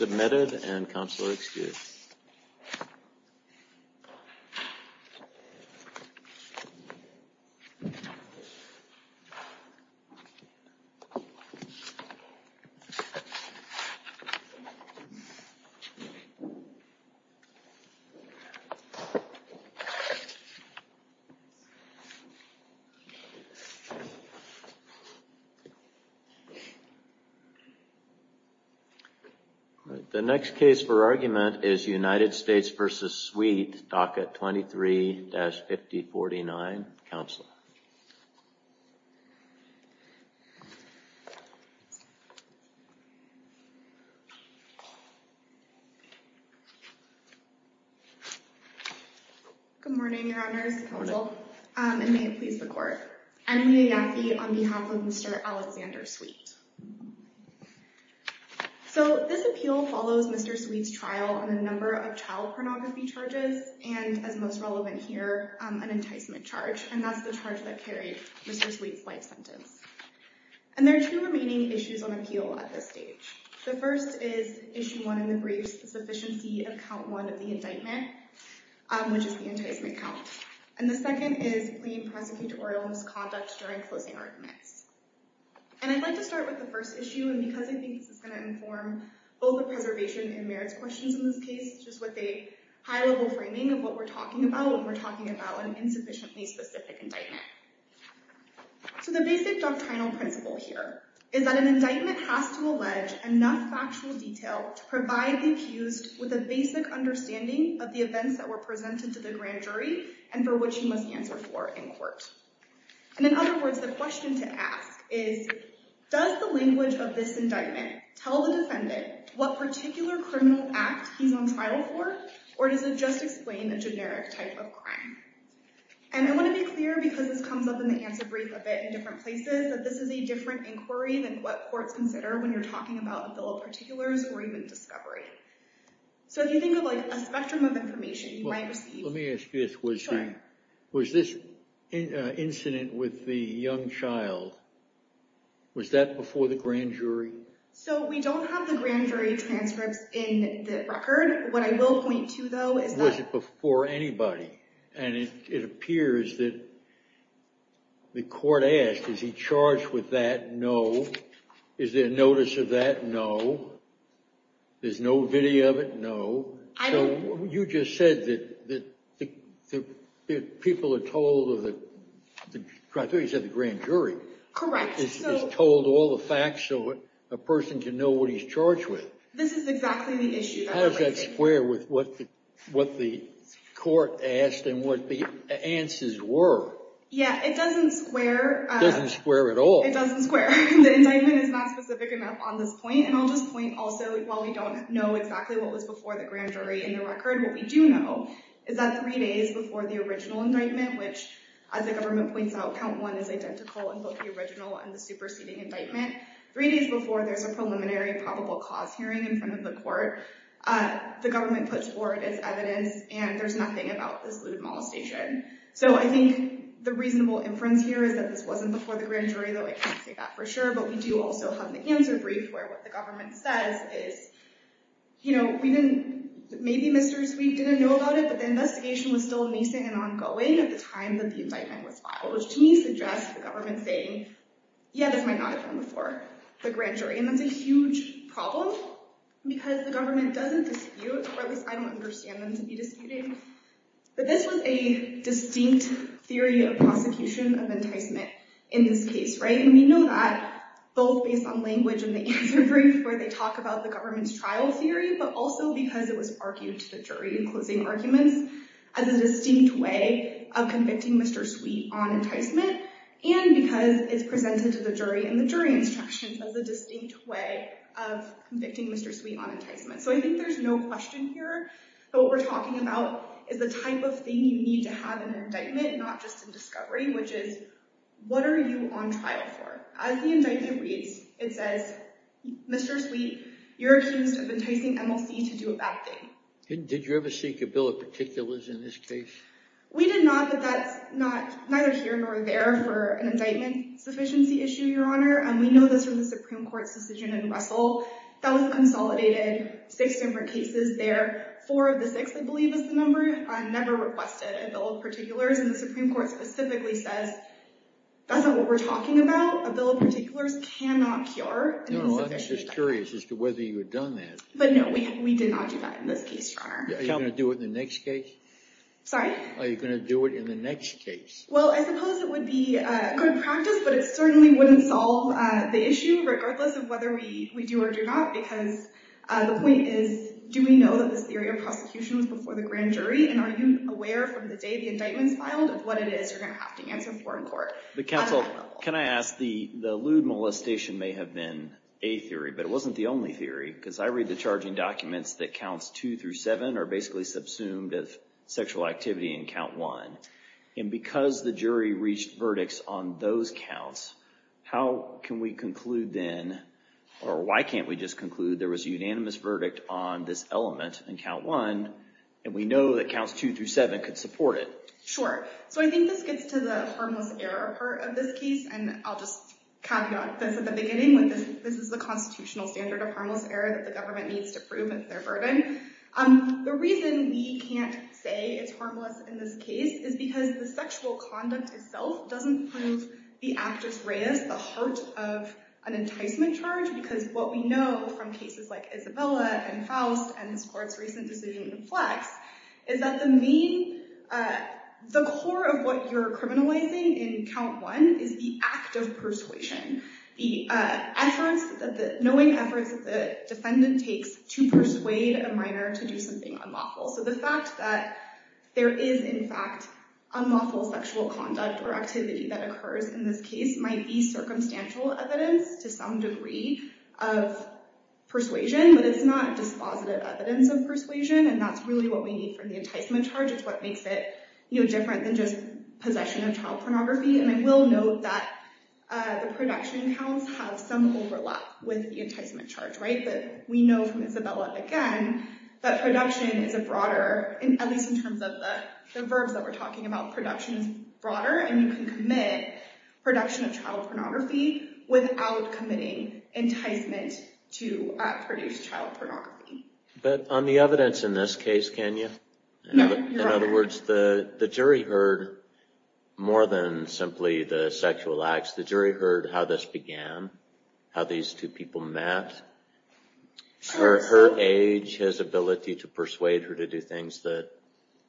Submitted and counselor excused. The next case for argument is United States v. Sweet, docket 23-5049, counselor. Good morning, your honors, counsel, and may it please the court. I'm Mia Yaffe on behalf of Mr. Alexander Sweet. So this appeal follows Mr. Sweet's trial on a number of child pornography charges, and as most relevant here, an enticement charge. And that's the charge that carried Mr. Sweet's life sentence. And there are two remaining issues on appeal at this stage. The first is issue one in the briefs, the sufficiency of count one of the indictment, which is the enticement count. And the second is plea and prosecutorial misconduct during closing arguments. And I'd like to start with the first issue, and because I think this is going to inform both the preservation and merits questions in this case, just with a high-level framing of what we're talking about when we're talking about an insufficiently specific indictment. So the basic doctrinal principle here is that an indictment has to allege enough factual detail to provide the accused with a basic understanding of the events that were presented to the grand jury and for which he must answer for in court. And in other words, the question to ask is, does the language of this indictment tell the defendant what particular criminal act he's on trial for, or does it just explain a generic type of crime? And I want to be clear, because this comes up in the answer brief a bit in different places, that this is a different inquiry than what courts consider when you're talking about a bill of particulars or even discovery. So if you think of a spectrum of information you might receive. Let me ask you this. Was this incident with the young child, was that before the grand jury? So we don't have the grand jury transcripts in the record. What I will point to, though, is that- Was it before anybody? And it appears that the court asked, is he charged with that? No. Is there notice of that? No. There's no video of it? No. You just said that people are told of the criteria of the grand jury. Correct. Is told all the facts so a person can know what he's charged with. This is exactly the issue that we're raising. How does that square with what the court asked and what the answers were? Yeah, it doesn't square. Doesn't square at all. It doesn't square. The indictment is not specific enough on this point. And I'll just point also, while we don't know exactly what was before the grand jury in the record, what we do know is that three days before the original indictment, which as the government points out, count one is identical in both the original and the superseding indictment, three days before there's a preliminary probable cause hearing in front of the court, the government puts forward its evidence and there's nothing about this lewd molestation. So I think the reasonable inference here is that this wasn't before the grand jury, though I can't say that for sure. But we do also have the answer brief where what the government says is, you know, we didn't, maybe Mr. Zweig didn't know about it, but the investigation was still nascent and ongoing at the time that the indictment was filed, which to me suggests the government saying, yeah, this might not have been before the grand jury. And that's a huge problem because the government doesn't dispute, or at least I don't understand them to be disputing. But this was a distinct theory of prosecution of enticement in this case. And we know that both based on language in the answer brief where they talk about the government's trial theory, but also because it was argued to the jury in closing arguments as a distinct way of convicting Mr. Zweig on enticement, and because it's presented to the jury in the jury instructions as a distinct way of convicting Mr. Zweig on enticement. So I think there's no question here, but what we're talking about is the type of thing you need to have in an indictment, not just in discovery, which is, what are you on trial for? As the indictment reads, it says, Mr. Zweig, you're accused of enticing MLC to do a bad thing. Did you ever seek a bill of particulars in this case? We did not, but that's neither here nor there for an indictment sufficiency issue, Your Honor. And we know this from the Supreme Court's decision in Russell. That was consolidated six different cases there. Four of the six, I believe, is the number, never requested a bill of particulars. And the Supreme Court specifically says, that's not what we're talking about. A bill of particulars cannot cure an enticement effect. No, no, I'm just curious as to whether you had done that. But no, we did not do that in this case, Your Honor. Are you going to do it in the next case? Sorry? Are you going to do it in the next case? Well, I suppose it would be good practice, but it certainly wouldn't solve the issue, regardless of whether we do or do not. Because the point is, do we know that this theory of prosecution was before the grand jury? And are you aware from the day the indictment's filed of what it is you're going to have to answer in court? But counsel, can I ask, the lewd molestation may have been a theory, but it wasn't the only theory. Because I read the charging documents that counts two through seven are basically subsumed as sexual activity in count one. And because the jury reached verdicts on those counts, how can we conclude then, or why can't we just conclude there was a unanimous verdict on this element in count one, and we know that counts two through seven could support it? Sure. So I think this gets to the harmless error part of this case. And I'll just caveat this at the beginning, with this is the constitutional standard of harmless error that the government needs to prove as their burden. The reason we can't say it's harmless in this case is because the sexual conduct itself doesn't prove the actus reus, the heart of an enticement charge. Because what we know from cases like Isabella, and Faust, and this court's recent decision in Flex, is that the core of what you're criminalizing in count one is the act of persuasion, the efforts, knowing efforts that the defendant takes to persuade a minor to do something unlawful. So the fact that there is, in fact, unlawful sexual conduct or activity that occurs in this case might be circumstantial evidence to some degree of persuasion. But it's not dispositive evidence of persuasion. And that's really what we need from the enticement charge. It's what makes it different than just possession of child pornography. And I will note that the production counts have some overlap with the enticement charge. We know from Isabella, again, that production is a broader, at least in terms of the verbs that we're talking about, production is broader. And you can commit production of child pornography without committing enticement to produce child pornography. But on the evidence in this case, can you? No. In other words, the jury heard more than simply the sexual acts. The jury heard how this began, how these two people met, her age, his ability to persuade her to do things that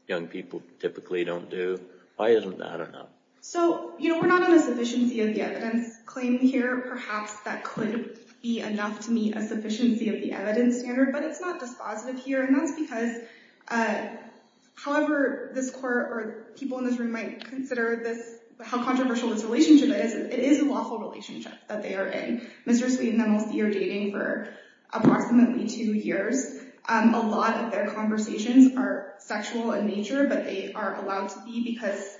young people typically don't do. Why isn't that enough? So we're not on a sufficiency of the evidence claim here. Perhaps that couldn't be enough to meet a sufficiency of the evidence standard. But it's not dispositive here. And that's because however this court or people in this room might consider how controversial this relationship is, it is a lawful relationship that they are in. Mr. Sweet and Ms. D are dating for approximately two years. A lot of their conversations are sexual in nature, but they are allowed to be because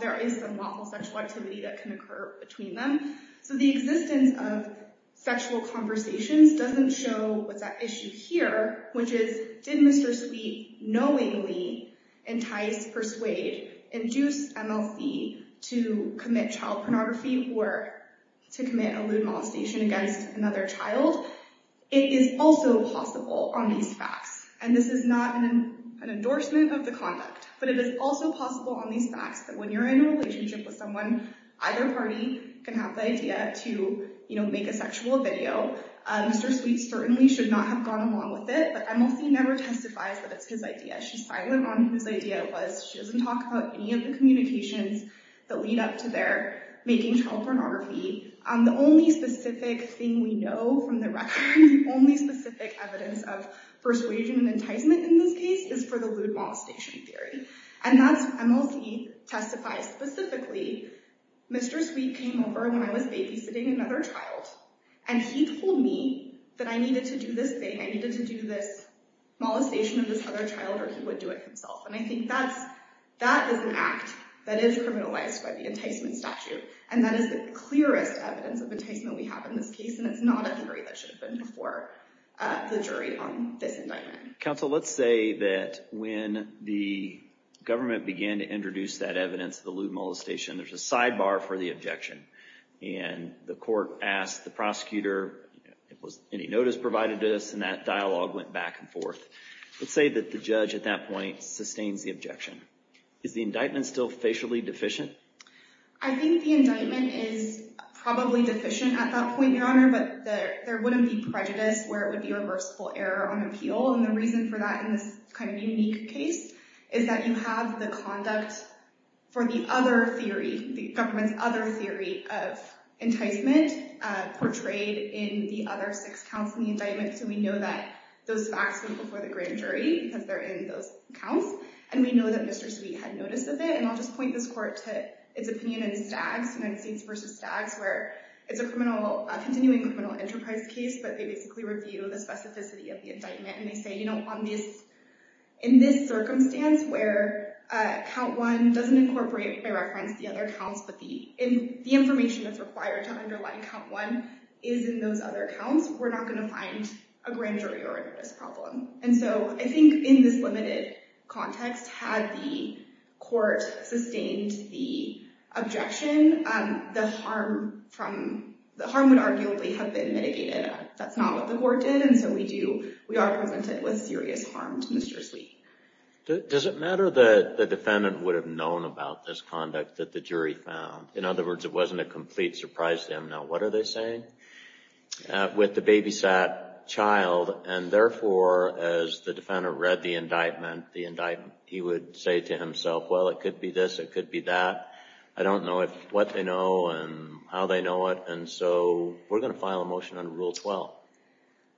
there is some lawful sexual activity that can occur between them. So the existence of sexual conversations doesn't show what's at issue here, which is did Mr. Sweet knowingly entice, persuade, induce MLC to commit child pornography or to commit a lewd molestation against another child? It is also possible on these facts. And this is not an endorsement of the conduct. But it is also possible on these facts that when you're in a relationship with someone, either party can have the idea to make a sexual video. Mr. Sweet certainly should not have gone along with it. But MLC never testifies that it's his idea. She's silent on whose idea it was. She doesn't talk about any of the communications that lead up to their making child pornography. The only specific thing we know from the record, the only specific evidence of persuasion and enticement in this case is for the lewd molestation theory. And that's what MLC testifies specifically. Mr. Sweet came over when I was babysitting another child. And he told me that I needed to do this thing. I needed to do this molestation of this other child, or he would do it himself. And I think that is an act that is criminalized by the enticement statute. And that is the clearest evidence of enticement we have in this case. And it's not a theory that should have been before the jury on this indictment. Counsel, let's say that when the government began to introduce that evidence, the lewd molestation, there's a sidebar for the objection. And the court asked the prosecutor, any notice provided to us? And that dialogue went back and forth. Let's say that the judge at that point sustains the objection. Is the indictment still facially deficient? I think the indictment is probably deficient at that point, Your Honor. But there wouldn't be prejudice where it would be reversible error on appeal. And the reason for that in this kind of unique case is that you have the conduct for the other theory, the government's other theory of enticement portrayed in the other six counts in the indictment. So we know that those facts came before the grand jury because they're in those counts. And we know that Mr. Sweet had notice of it. And I'll just point this court to its opinion in Staggs, United States v. Staggs, where it's a continuing criminal enterprise case, but they basically review the specificity of the indictment. And they say, you know, in this circumstance where count one doesn't incorporate by reference the other counts, but the information that's required to underline count one is in those other counts, we're not gonna find a grand jury or a notice problem. And so I think in this limited context, had the court sustained the objection, the harm would arguably have been mitigated. That's not what the court did. And so we do, we are presented with serious harm to Mr. Sweet. Does it matter that the defendant would have known about this conduct that the jury found? In other words, it wasn't a complete surprise to him. Now, what are they saying? With the babysat child and therefore, as the defendant read the indictment, the indictment, he would say to himself, well, it could be this, it could be that. I don't know what they know and how they know it. And so we're gonna file a motion on rule 12.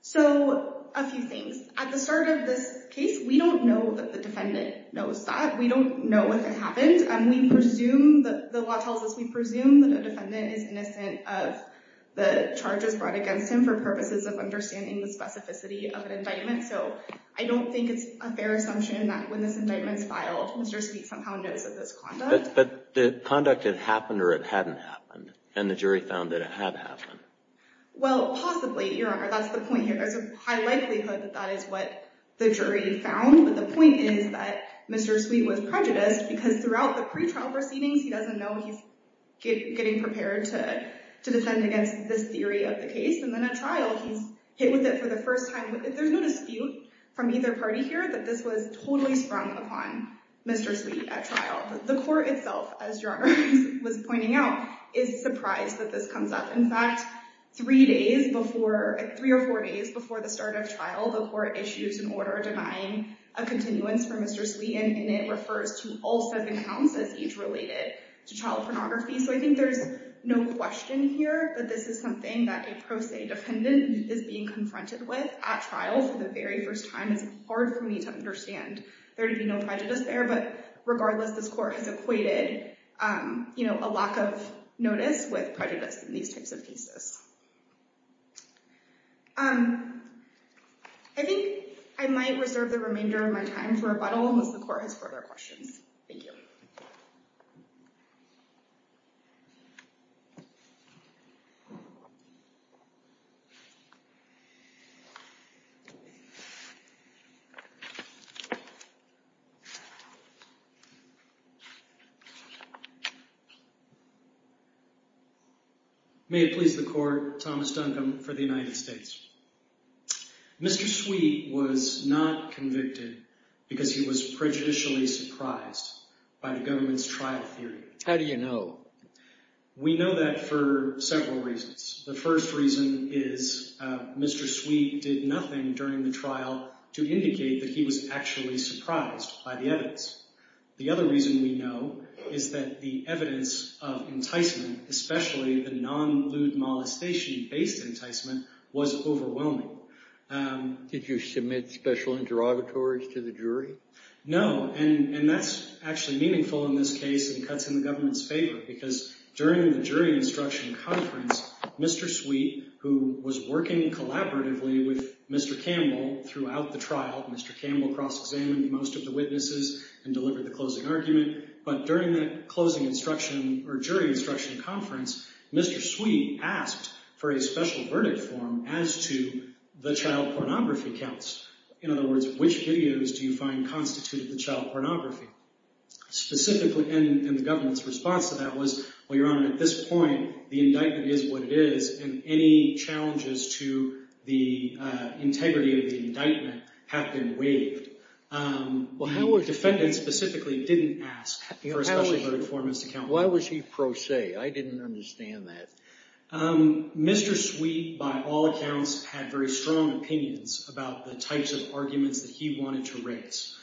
So a few things. At the start of this case, we don't know that the defendant knows that. We don't know if it happened. And we presume that the law tells us, we presume that a defendant is innocent of the charges brought against him for purposes of understanding the specificity of an indictment. So I don't think it's a fair assumption that when this indictment's filed, Mr. Sweet somehow knows of this conduct. But the conduct had happened or it hadn't happened. And the jury found that it had happened. Well, possibly, Your Honor, that's the point here. There's a high likelihood that that is what the jury found. But the point is that Mr. Sweet was prejudiced because throughout the pretrial proceedings, he doesn't know he's getting prepared to defend against this theory of the case. And then at trial, he's hit with it for the first time. There's no dispute from either party here that this was totally sprung upon Mr. Sweet at trial. The court itself, as Your Honor was pointing out, is surprised that this comes up. In fact, three or four days before the start of trial, the court issues an order denying a continuance for Mr. Sweet. And it refers to all seven counts as age-related to child pornography. So I think there's no question here that this is something that a pro se defendant is being confronted with at trial for the very first time. It's hard for me to understand. There'd be no prejudice there. But regardless, this court has equated a lack of notice with prejudice in these types of cases. I think I might reserve the remainder of my time for rebuttal unless the court has further questions. Thank you. May it please the court, Thomas Duncombe for the United States. Mr. Sweet was not convicted because he was prejudicially surprised by the government's trial theory. How do you know? We know that for several reasons. The first reason is Mr. Sweet did nothing during the trial to indicate that he was actually surprised by the evidence. The other reason we know is that the evidence of enticement, especially the non-lewd molestation-based enticement, was overwhelming. Did you submit special interrogatories to the jury? No, and that's actually meaningful in this case and cuts in the government's favor because during the jury instruction conference, Mr. Sweet, who was working collaboratively with Mr. Campbell throughout the trial, Mr. Campbell cross-examined most of the witnesses and delivered the closing argument, but during that closing instruction or jury instruction conference, Mr. Sweet asked for a special verdict form as to the child pornography counts. In other words, which videos do you find constituted the child pornography? Specifically, and the government's response to that was, well, Your Honor, at this point, the indictment is what it is, and any challenges to the integrity of the indictment have been waived. The defendant specifically didn't ask for a special verdict form as to count. Why was he pro se? I didn't understand that. Mr. Sweet, by all accounts, had very strong opinions about the types of arguments that he wanted to raise.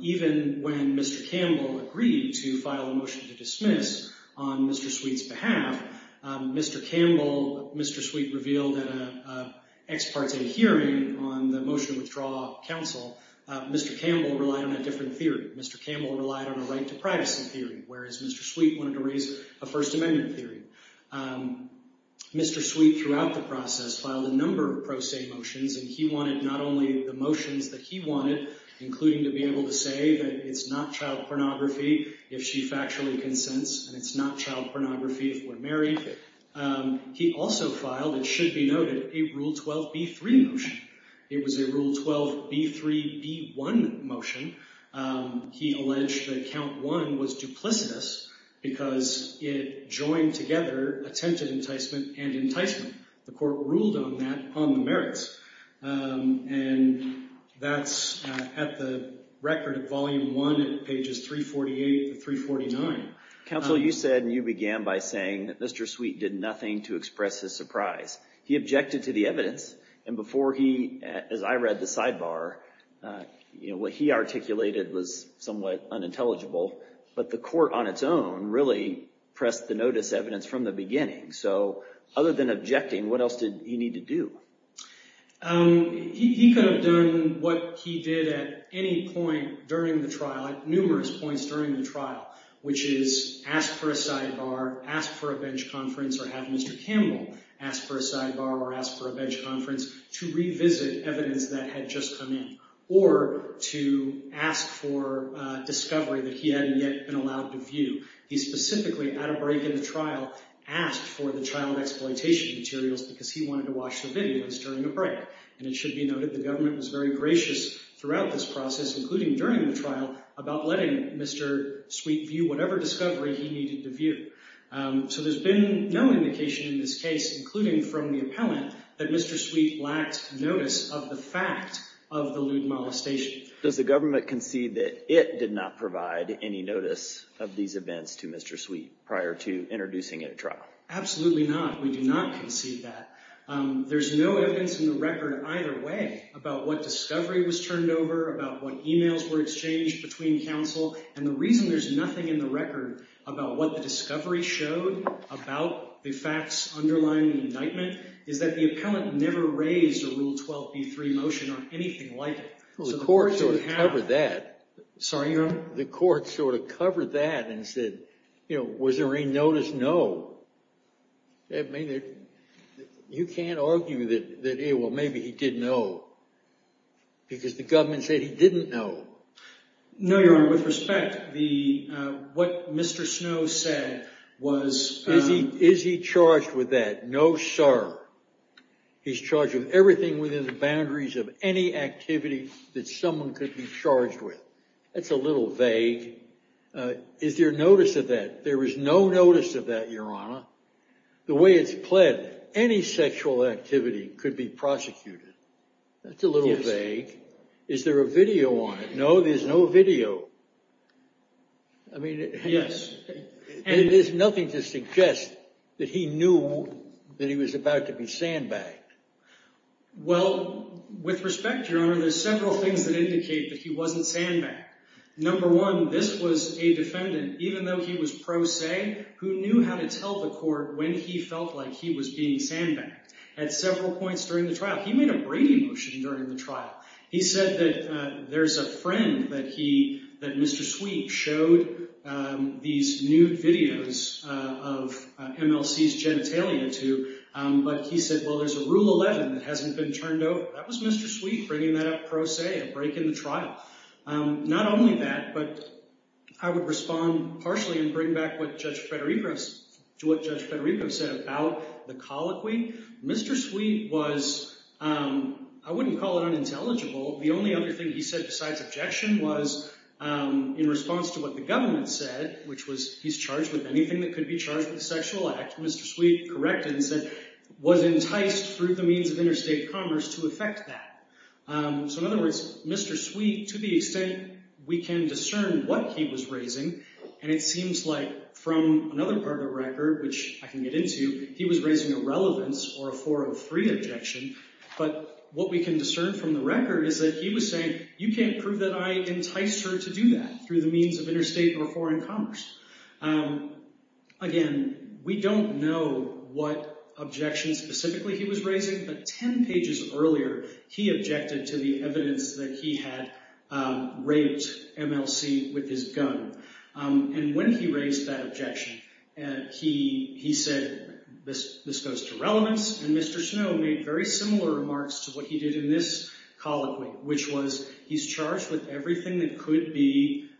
Even when Mr. Campbell agreed to file a motion to dismiss on Mr. Sweet's behalf, Mr. Campbell, Mr. Sweet revealed at an ex parte hearing on the motion to withdraw counsel, Mr. Campbell relied on a different theory. Mr. Campbell relied on a right to privacy theory, whereas Mr. Sweet wanted to raise a First Amendment theory. Mr. Sweet, throughout the process, filed a number of pro se motions, and he wanted not only the motions that he wanted, including to be able to say that it's not child pornography if she factually consents, and it's not child pornography if we're married. He also filed, it should be noted, a Rule 12b3 motion. It was a Rule 12b3b1 motion. He alleged that count one was duplicitous because it joined together attempted enticement and enticement. The court ruled on that on the merits. And that's at the record of volume one, at pages 348 and 349. Counsel, you said, and you began by saying that Mr. Sweet did nothing to express his surprise. He objected to the evidence, and before he, as I read the sidebar, what he articulated was somewhat unintelligible, but the court on its own really pressed the notice evidence from the beginning. So other than objecting, what else did he need to do? He could have done what he did at any point during the trial, at numerous points during the trial, which is ask for a sidebar, ask for a bench conference, or have Mr. Campbell ask for a sidebar or ask for a bench conference to revisit evidence that had just come in, or to ask for a discovery that he hadn't yet been allowed to view. He specifically, at a break in the trial, asked for the child exploitation materials because he wanted to watch the videos during the break. And it should be noted the government was very gracious throughout this process, including during the trial, about letting Mr. Sweet view whatever discovery he needed to view. So there's been no indication in this case, including from the appellant, that Mr. Sweet lacked notice of the fact of the lewd molestation. Does the government concede that it did not provide any notice of these events to Mr. Sweet prior to introducing it at trial? Absolutely not, we do not concede that. There's no evidence in the record either way about what discovery was turned over, about what emails were exchanged between counsel. And the reason there's nothing in the record about what the discovery showed, about the facts underlying the indictment, is that the appellant never raised a Rule 12b3 motion on anything like it. Well, the court sort of covered that. Sorry, Your Honor? The court sort of covered that and said, you know, was there any notice? No. I mean, you can't argue that, hey, well, maybe he didn't know because the government said he didn't know. No, Your Honor, with respect, what Mr. Snow said was... Is he charged with that? No, sir. He's charged with everything within the boundaries of any activity that someone could be charged with. That's a little vague. Is there notice of that? There is no notice of that, Your Honor. The way it's pled, any sexual activity could be prosecuted. That's a little vague. Is there a video on it? No, there's no video. I mean, yes. And it is nothing to suggest that he knew that he was about to be sandbagged. Well, with respect, Your Honor, there's several things that indicate that he wasn't sandbagged. Number one, this was a defendant, even though he was pro se, who knew how to tell the court when he felt like he was being sandbagged. At several points during the trial, he made a Brady motion during the trial. He said that there's a friend that he, that Mr. Sweet showed these nude videos of MLC's genitalia to, but he said, well, there's a rule 11 that hasn't been turned over. That was Mr. Sweet bringing that up pro se, a break in the trial. Not only that, but I would respond partially and bring back what Judge Federico, to what Judge Federico said about the colloquy. Mr. Sweet was, I wouldn't call it unintelligible. The only other thing he said besides objection was in response to what the government said, which was he's charged with anything that could be charged with a sexual act. Mr. Sweet corrected and said, was enticed through the means of interstate commerce to effect that. So in other words, Mr. Sweet, to the extent we can discern what he was raising, and it seems like from another part of the record, which I can get into, he was raising a relevance or a 403 objection, but what we can discern from the record is that he was saying, you can't prove that I enticed her to do that through the means of interstate or foreign commerce. Again, we don't know what objections specifically he was raising, but 10 pages earlier, he objected to the evidence that he had raped MLC with his gun. And when he raised that objection, he said, this goes to relevance, and Mr. Snow made very similar remarks to what he did in this colloquy, which was he's charged with everything that could be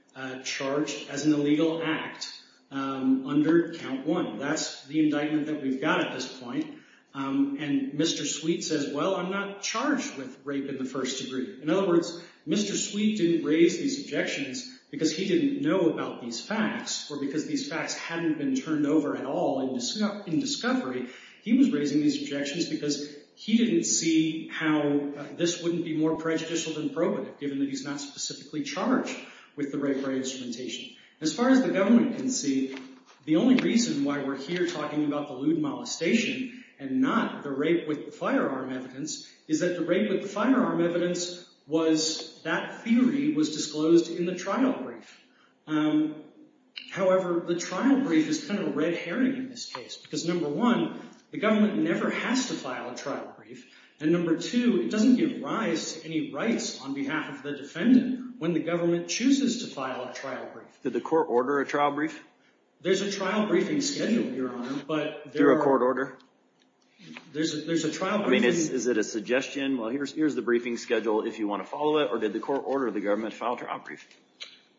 charged as an illegal act under count one. That's the indictment that we've got at this point. And Mr. Sweet says, well, I'm not charged with rape in the first degree. In other words, Mr. Sweet didn't raise these objections because he didn't know about these facts or because these facts hadn't been turned over at all in discovery. He was raising these objections because he didn't see how this wouldn't be more prejudicial than probative, given that he's not specifically charged with the rape rate instrumentation. As far as the government can see, the only reason why we're here talking about the lewd molestation and not the rape with firearm evidence is that the rape with firearm evidence was, that theory was disclosed in the trial brief. However, the trial brief is kind of a red herring in this case, because number one, the government never has to file a trial brief, and number two, it doesn't give rise to any rights on behalf of the defendant when the government chooses to file a trial brief. Did the court order a trial brief? There's a trial briefing schedule, Your Honor, but there are... Is there a court order? There's a trial briefing... Is it a suggestion, well, here's the briefing schedule if you want to follow it, or did the court order the government to file a trial brief?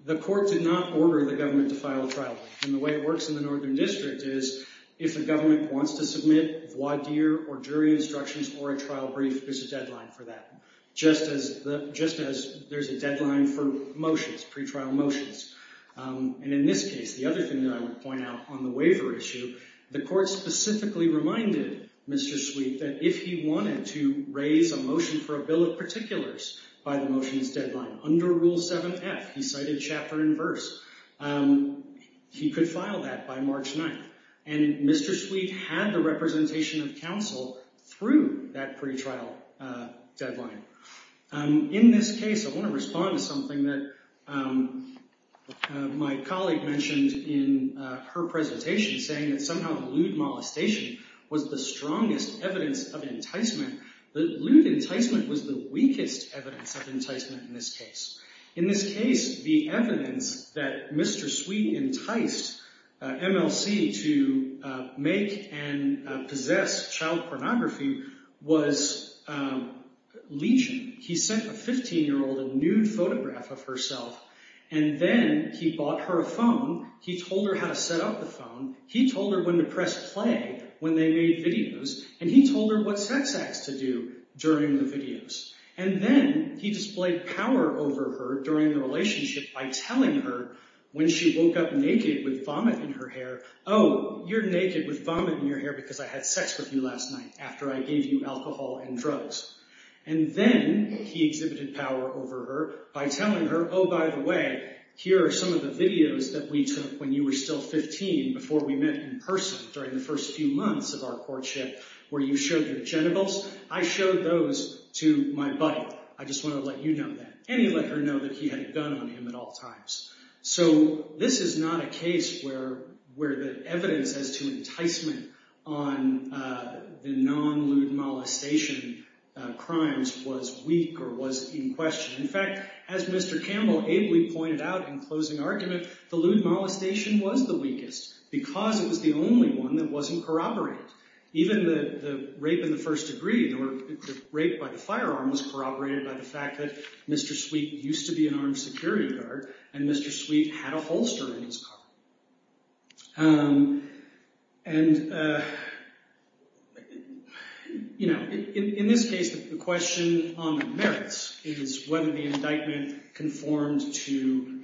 The court did not order the government to file a trial brief, and the way it works in the Northern District is if the government wants to submit a voir dire or jury instructions or a trial brief, there's a deadline for that, just as there's a deadline for motions, pre-trial motions. And in this case, the other thing that I would point out on the waiver issue, the court specifically reminded Mr. Sweet that if he wanted to raise a motion for a bill of particulars by the motions deadline, under Rule 7F, he cited chapter and verse, he could file that by March 9th. And Mr. Sweet had the representation of counsel through that pre-trial deadline. In this case, I want to respond to something that my colleague mentioned in her presentation, saying that somehow the lewd molestation was the strongest evidence of enticement. The lewd enticement was the weakest evidence of enticement in this case. In this case, the evidence that Mr. Sweet enticed MLC to make and possess child pornography was Legion. He sent a 15-year-old a nude photograph of herself, and then he bought her a phone, he told her how to set up the phone, he told her when to press play when they made videos, and he told her what sex acts to do during the videos. And then he displayed power over her during the relationship by telling her when she woke up naked with vomit in her hair, oh, you're naked with vomit in your hair because I had sex with you last night after I gave you alcohol and drugs. And then he exhibited power over her by telling her, oh, by the way, here are some of the videos that we took when you were still 15 before we met in person during the first few months of our courtship where you showed your genitals. I showed those to my buddy. I just want to let you know that. And he let her know that he had a gun on him at all times. So this is not a case where the evidence as to enticement on the non-lewd molestation crimes was weak or was in question. In fact, as Mr. Campbell ably pointed out in closing argument, the lewd molestation was the weakest because it was the only one that wasn't corroborated. Even the rape in the first degree, or the rape by the firearm was corroborated by the fact that Mr. Sweet used to be an armed security guard and Mr. Sweet had a holster in his car. And in this case, the question on the merits is whether the indictment conformed to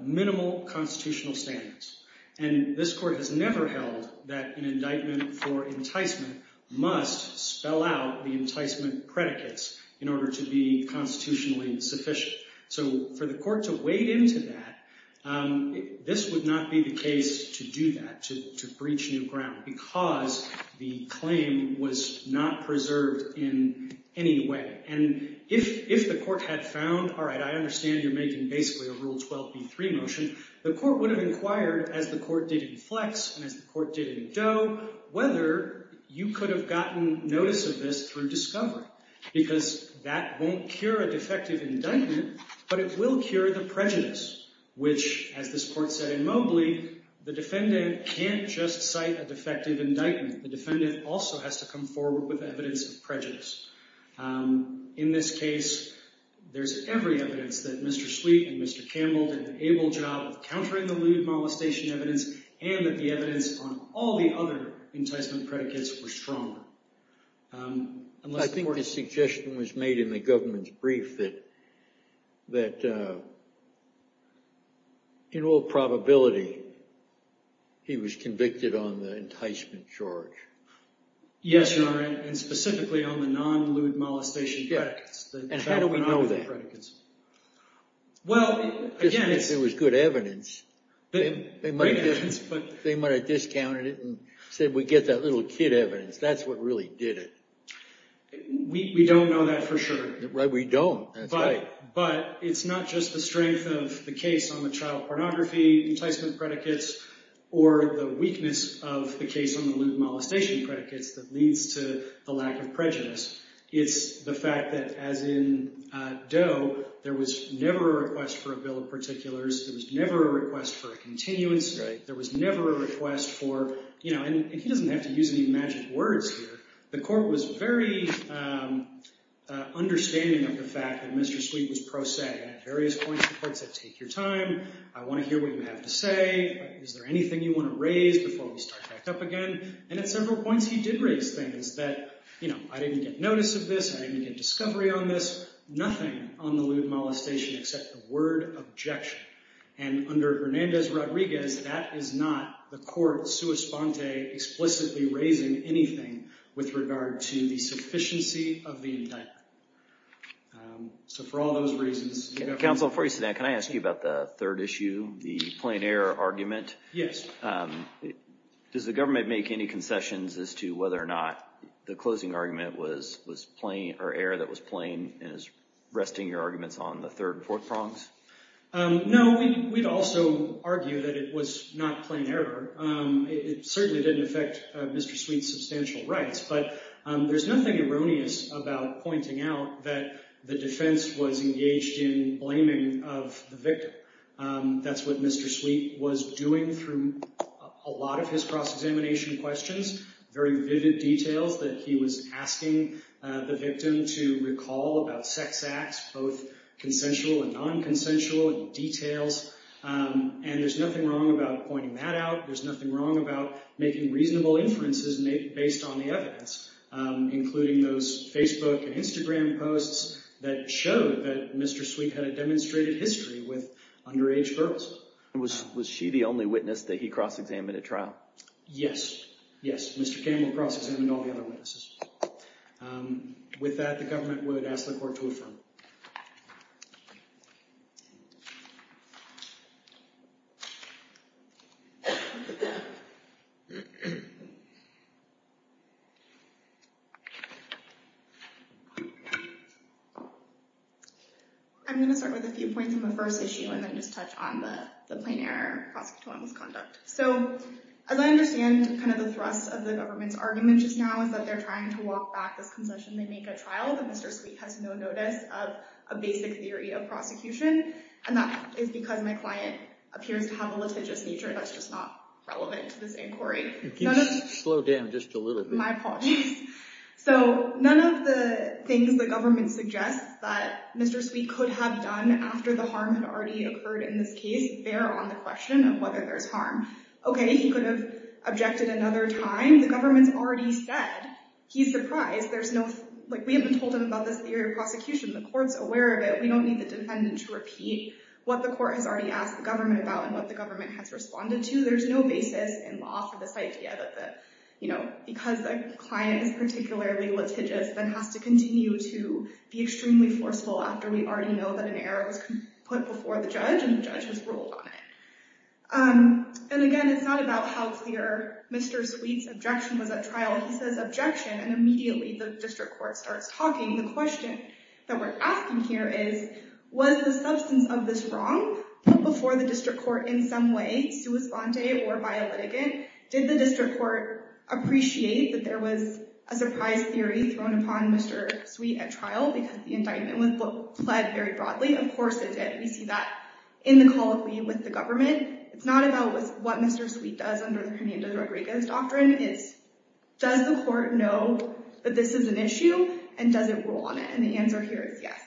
minimal constitutional standards. And this court has never held that an indictment for enticement must spell out the enticement predicates in order to be constitutionally sufficient. So for the court to wade into that, this would not be the case to do that, to breach new ground because the claim was not preserved in any way. And if the court had found, all right, I understand you're making basically a Rule 12b3 motion, the court would have inquired as the court did in Flex and as the court did in Doe, whether you could have gotten notice of this through discovery because that won't cure a defective indictment, but it will cure the prejudice, which as this court said in Mobley, the defendant can't just cite a defective indictment. The defendant also has to come forward with evidence of prejudice. In this case, there's every evidence that Mr. Sweet and Mr. Campbell did an able job of countering the lewd molestation evidence and that the evidence on all the other enticement predicates were stronger. Unless the court- I believe that, in all probability, he was convicted on the enticement charge. Yes, Your Honor, and specifically on the non-lewd molestation predicates. And how do we know that? Well, again- Just because it was good evidence, they might have discounted it and said, we get that little kid evidence, that's what really did it. We don't know that for sure. We don't, that's right. But it's not just the strength of the case on the child pornography enticement predicates or the weakness of the case on the lewd molestation predicates that leads to the lack of prejudice. It's the fact that, as in Doe, there was never a request for a bill of particulars, there was never a request for a continuance, there was never a request for, and he doesn't have to use any magic words here, the court was very understanding of the fact that Mr. Sweet was pro se, and at various points the court said, take your time, I wanna hear what you have to say, is there anything you wanna raise before we start back up again? And at several points he did raise things that, you know, I didn't get notice of this, I didn't get discovery on this, nothing on the lewd molestation except the word objection. And under Hernandez-Rodriguez, that is not the court sua sponte explicitly raising anything with regard to the sufficiency of the indictment. So for all those reasons. Counsel, before you sit down, can I ask you about the third issue, the plain error argument? Yes. Does the government make any concessions as to whether or not the closing argument was plain, or error that was plain, and is resting your arguments on the third and fourth prongs? No, we'd also argue that it was not plain error. It certainly didn't affect Mr. Sweet's substantial rights, but there's nothing erroneous about pointing out that the defense was engaged in blaming of the victim. That's what Mr. Sweet was doing through a lot of his cross-examination questions, very vivid details that he was asking the victim to recall about sex acts, both consensual and non-consensual details. And there's nothing wrong about pointing that out, there's nothing wrong about making reasonable inferences based on the evidence, including those Facebook and Instagram posts that showed that Mr. Sweet had a demonstrated history with underage girls. Was she the only witness that he cross-examined at trial? Yes, yes, Mr. Campbell cross-examined all the other witnesses. With that, the government would ask the court to affirm. Thank you. I'm gonna start with a few points on the first issue and then just touch on the plain error prosecutorial misconduct. So, as I understand the thrust of the government's argument just now is that they're trying to walk back this concession. They make a trial that Mr. Sweet has no notice of a basic theory of prosecution, and that is because my client appears to have a litigious nature that's just not relevant to this inquiry. You can slow down just a little bit. My apologies. So, none of the things the government suggests that Mr. Sweet could have done after the harm had already occurred in this case bear on the question of whether there's harm. Okay, he could have objected another time. The government's already said he's surprised. There's no, like we haven't told him about this theory of prosecution. The court's aware of it. We don't need the defendant to repeat what the court has already asked the government about and what the government has responded to. There's no basis in law for this idea that because the client is particularly litigious then has to continue to be extremely forceful after we already know that an error was put before the judge and the judge has ruled on it. And again, it's not about how clear Mr. Sweet's objection was at trial. He says objection, and immediately the district court starts talking. The question that we're asking here is was the substance of this wrong put before the district court in some way, sua sponte or by a litigant? Did the district court appreciate that there was a surprise theory thrown upon Mr. Sweet at trial because the indictment was pled very broadly? Of course it did. We see that in the call of leave with the government. It's not about what Mr. Sweet does under Hernando Rodriguez's doctrine. It's does the court know that this is an issue and does it rule on it? And the answer here is yes.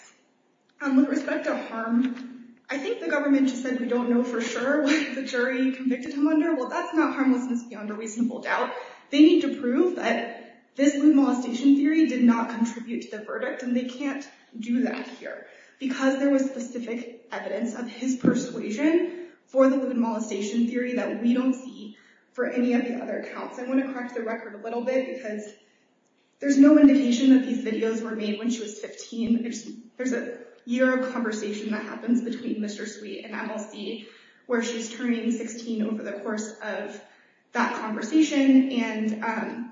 With respect to harm, I think the government just said we don't know for sure what the jury convicted him under. Well, that's not harmlessness beyond a reasonable doubt. They need to prove that this lewd molestation theory did not contribute to the verdict, and they can't do that here because there was specific evidence of his persuasion for the lewd molestation theory that we don't see for any of the other accounts. I want to crack the record a little bit because there's no indication that these videos were made when she was 15. There's a year of conversation that happens between Mr. Sweet and MLC where she's turning 16 over the course of that conversation, and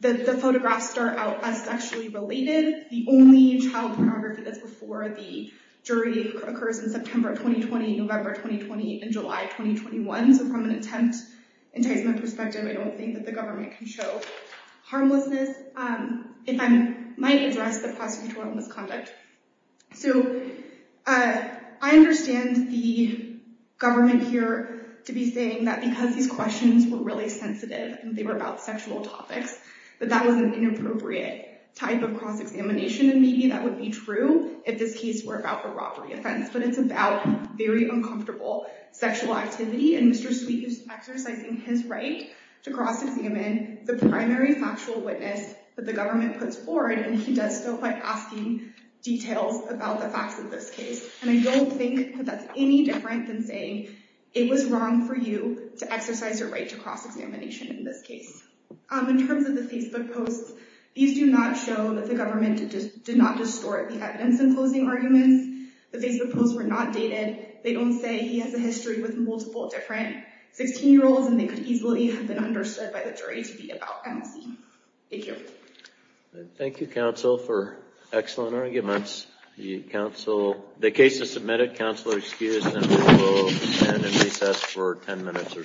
the photographs start out as sexually related. The only child pornography that's before the jury occurs in September 2020, November 2020, and July 2021. So from an attempt enticement perspective, I don't think that the government can show harmlessness. If I might address the prosecutorial misconduct. So I understand the government here to be saying that because these questions were really sensitive and they were about sexual topics, that that was an inappropriate type of cross-examination, and maybe that would be true if this case were about a robbery offense, but it's about very uncomfortable sexual activity, and Mr. Sweet is exercising his right to cross-examine the primary factual witness that the government puts forward and he does so by asking details about the facts of this case. And I don't think that that's any different than saying, it was wrong for you to exercise your right to cross-examination in this case. In terms of the Facebook posts, these do not show that the government did not distort the evidence in closing arguments. The Facebook posts were not dated. They don't say he has a history with multiple different 16 year olds and they could easily have been understood by the jury to be about MC. Thank you. Thank you, counsel, for excellent arguments. The case is submitted. Counsel are excused and we will stand in recess for 10 minutes or so.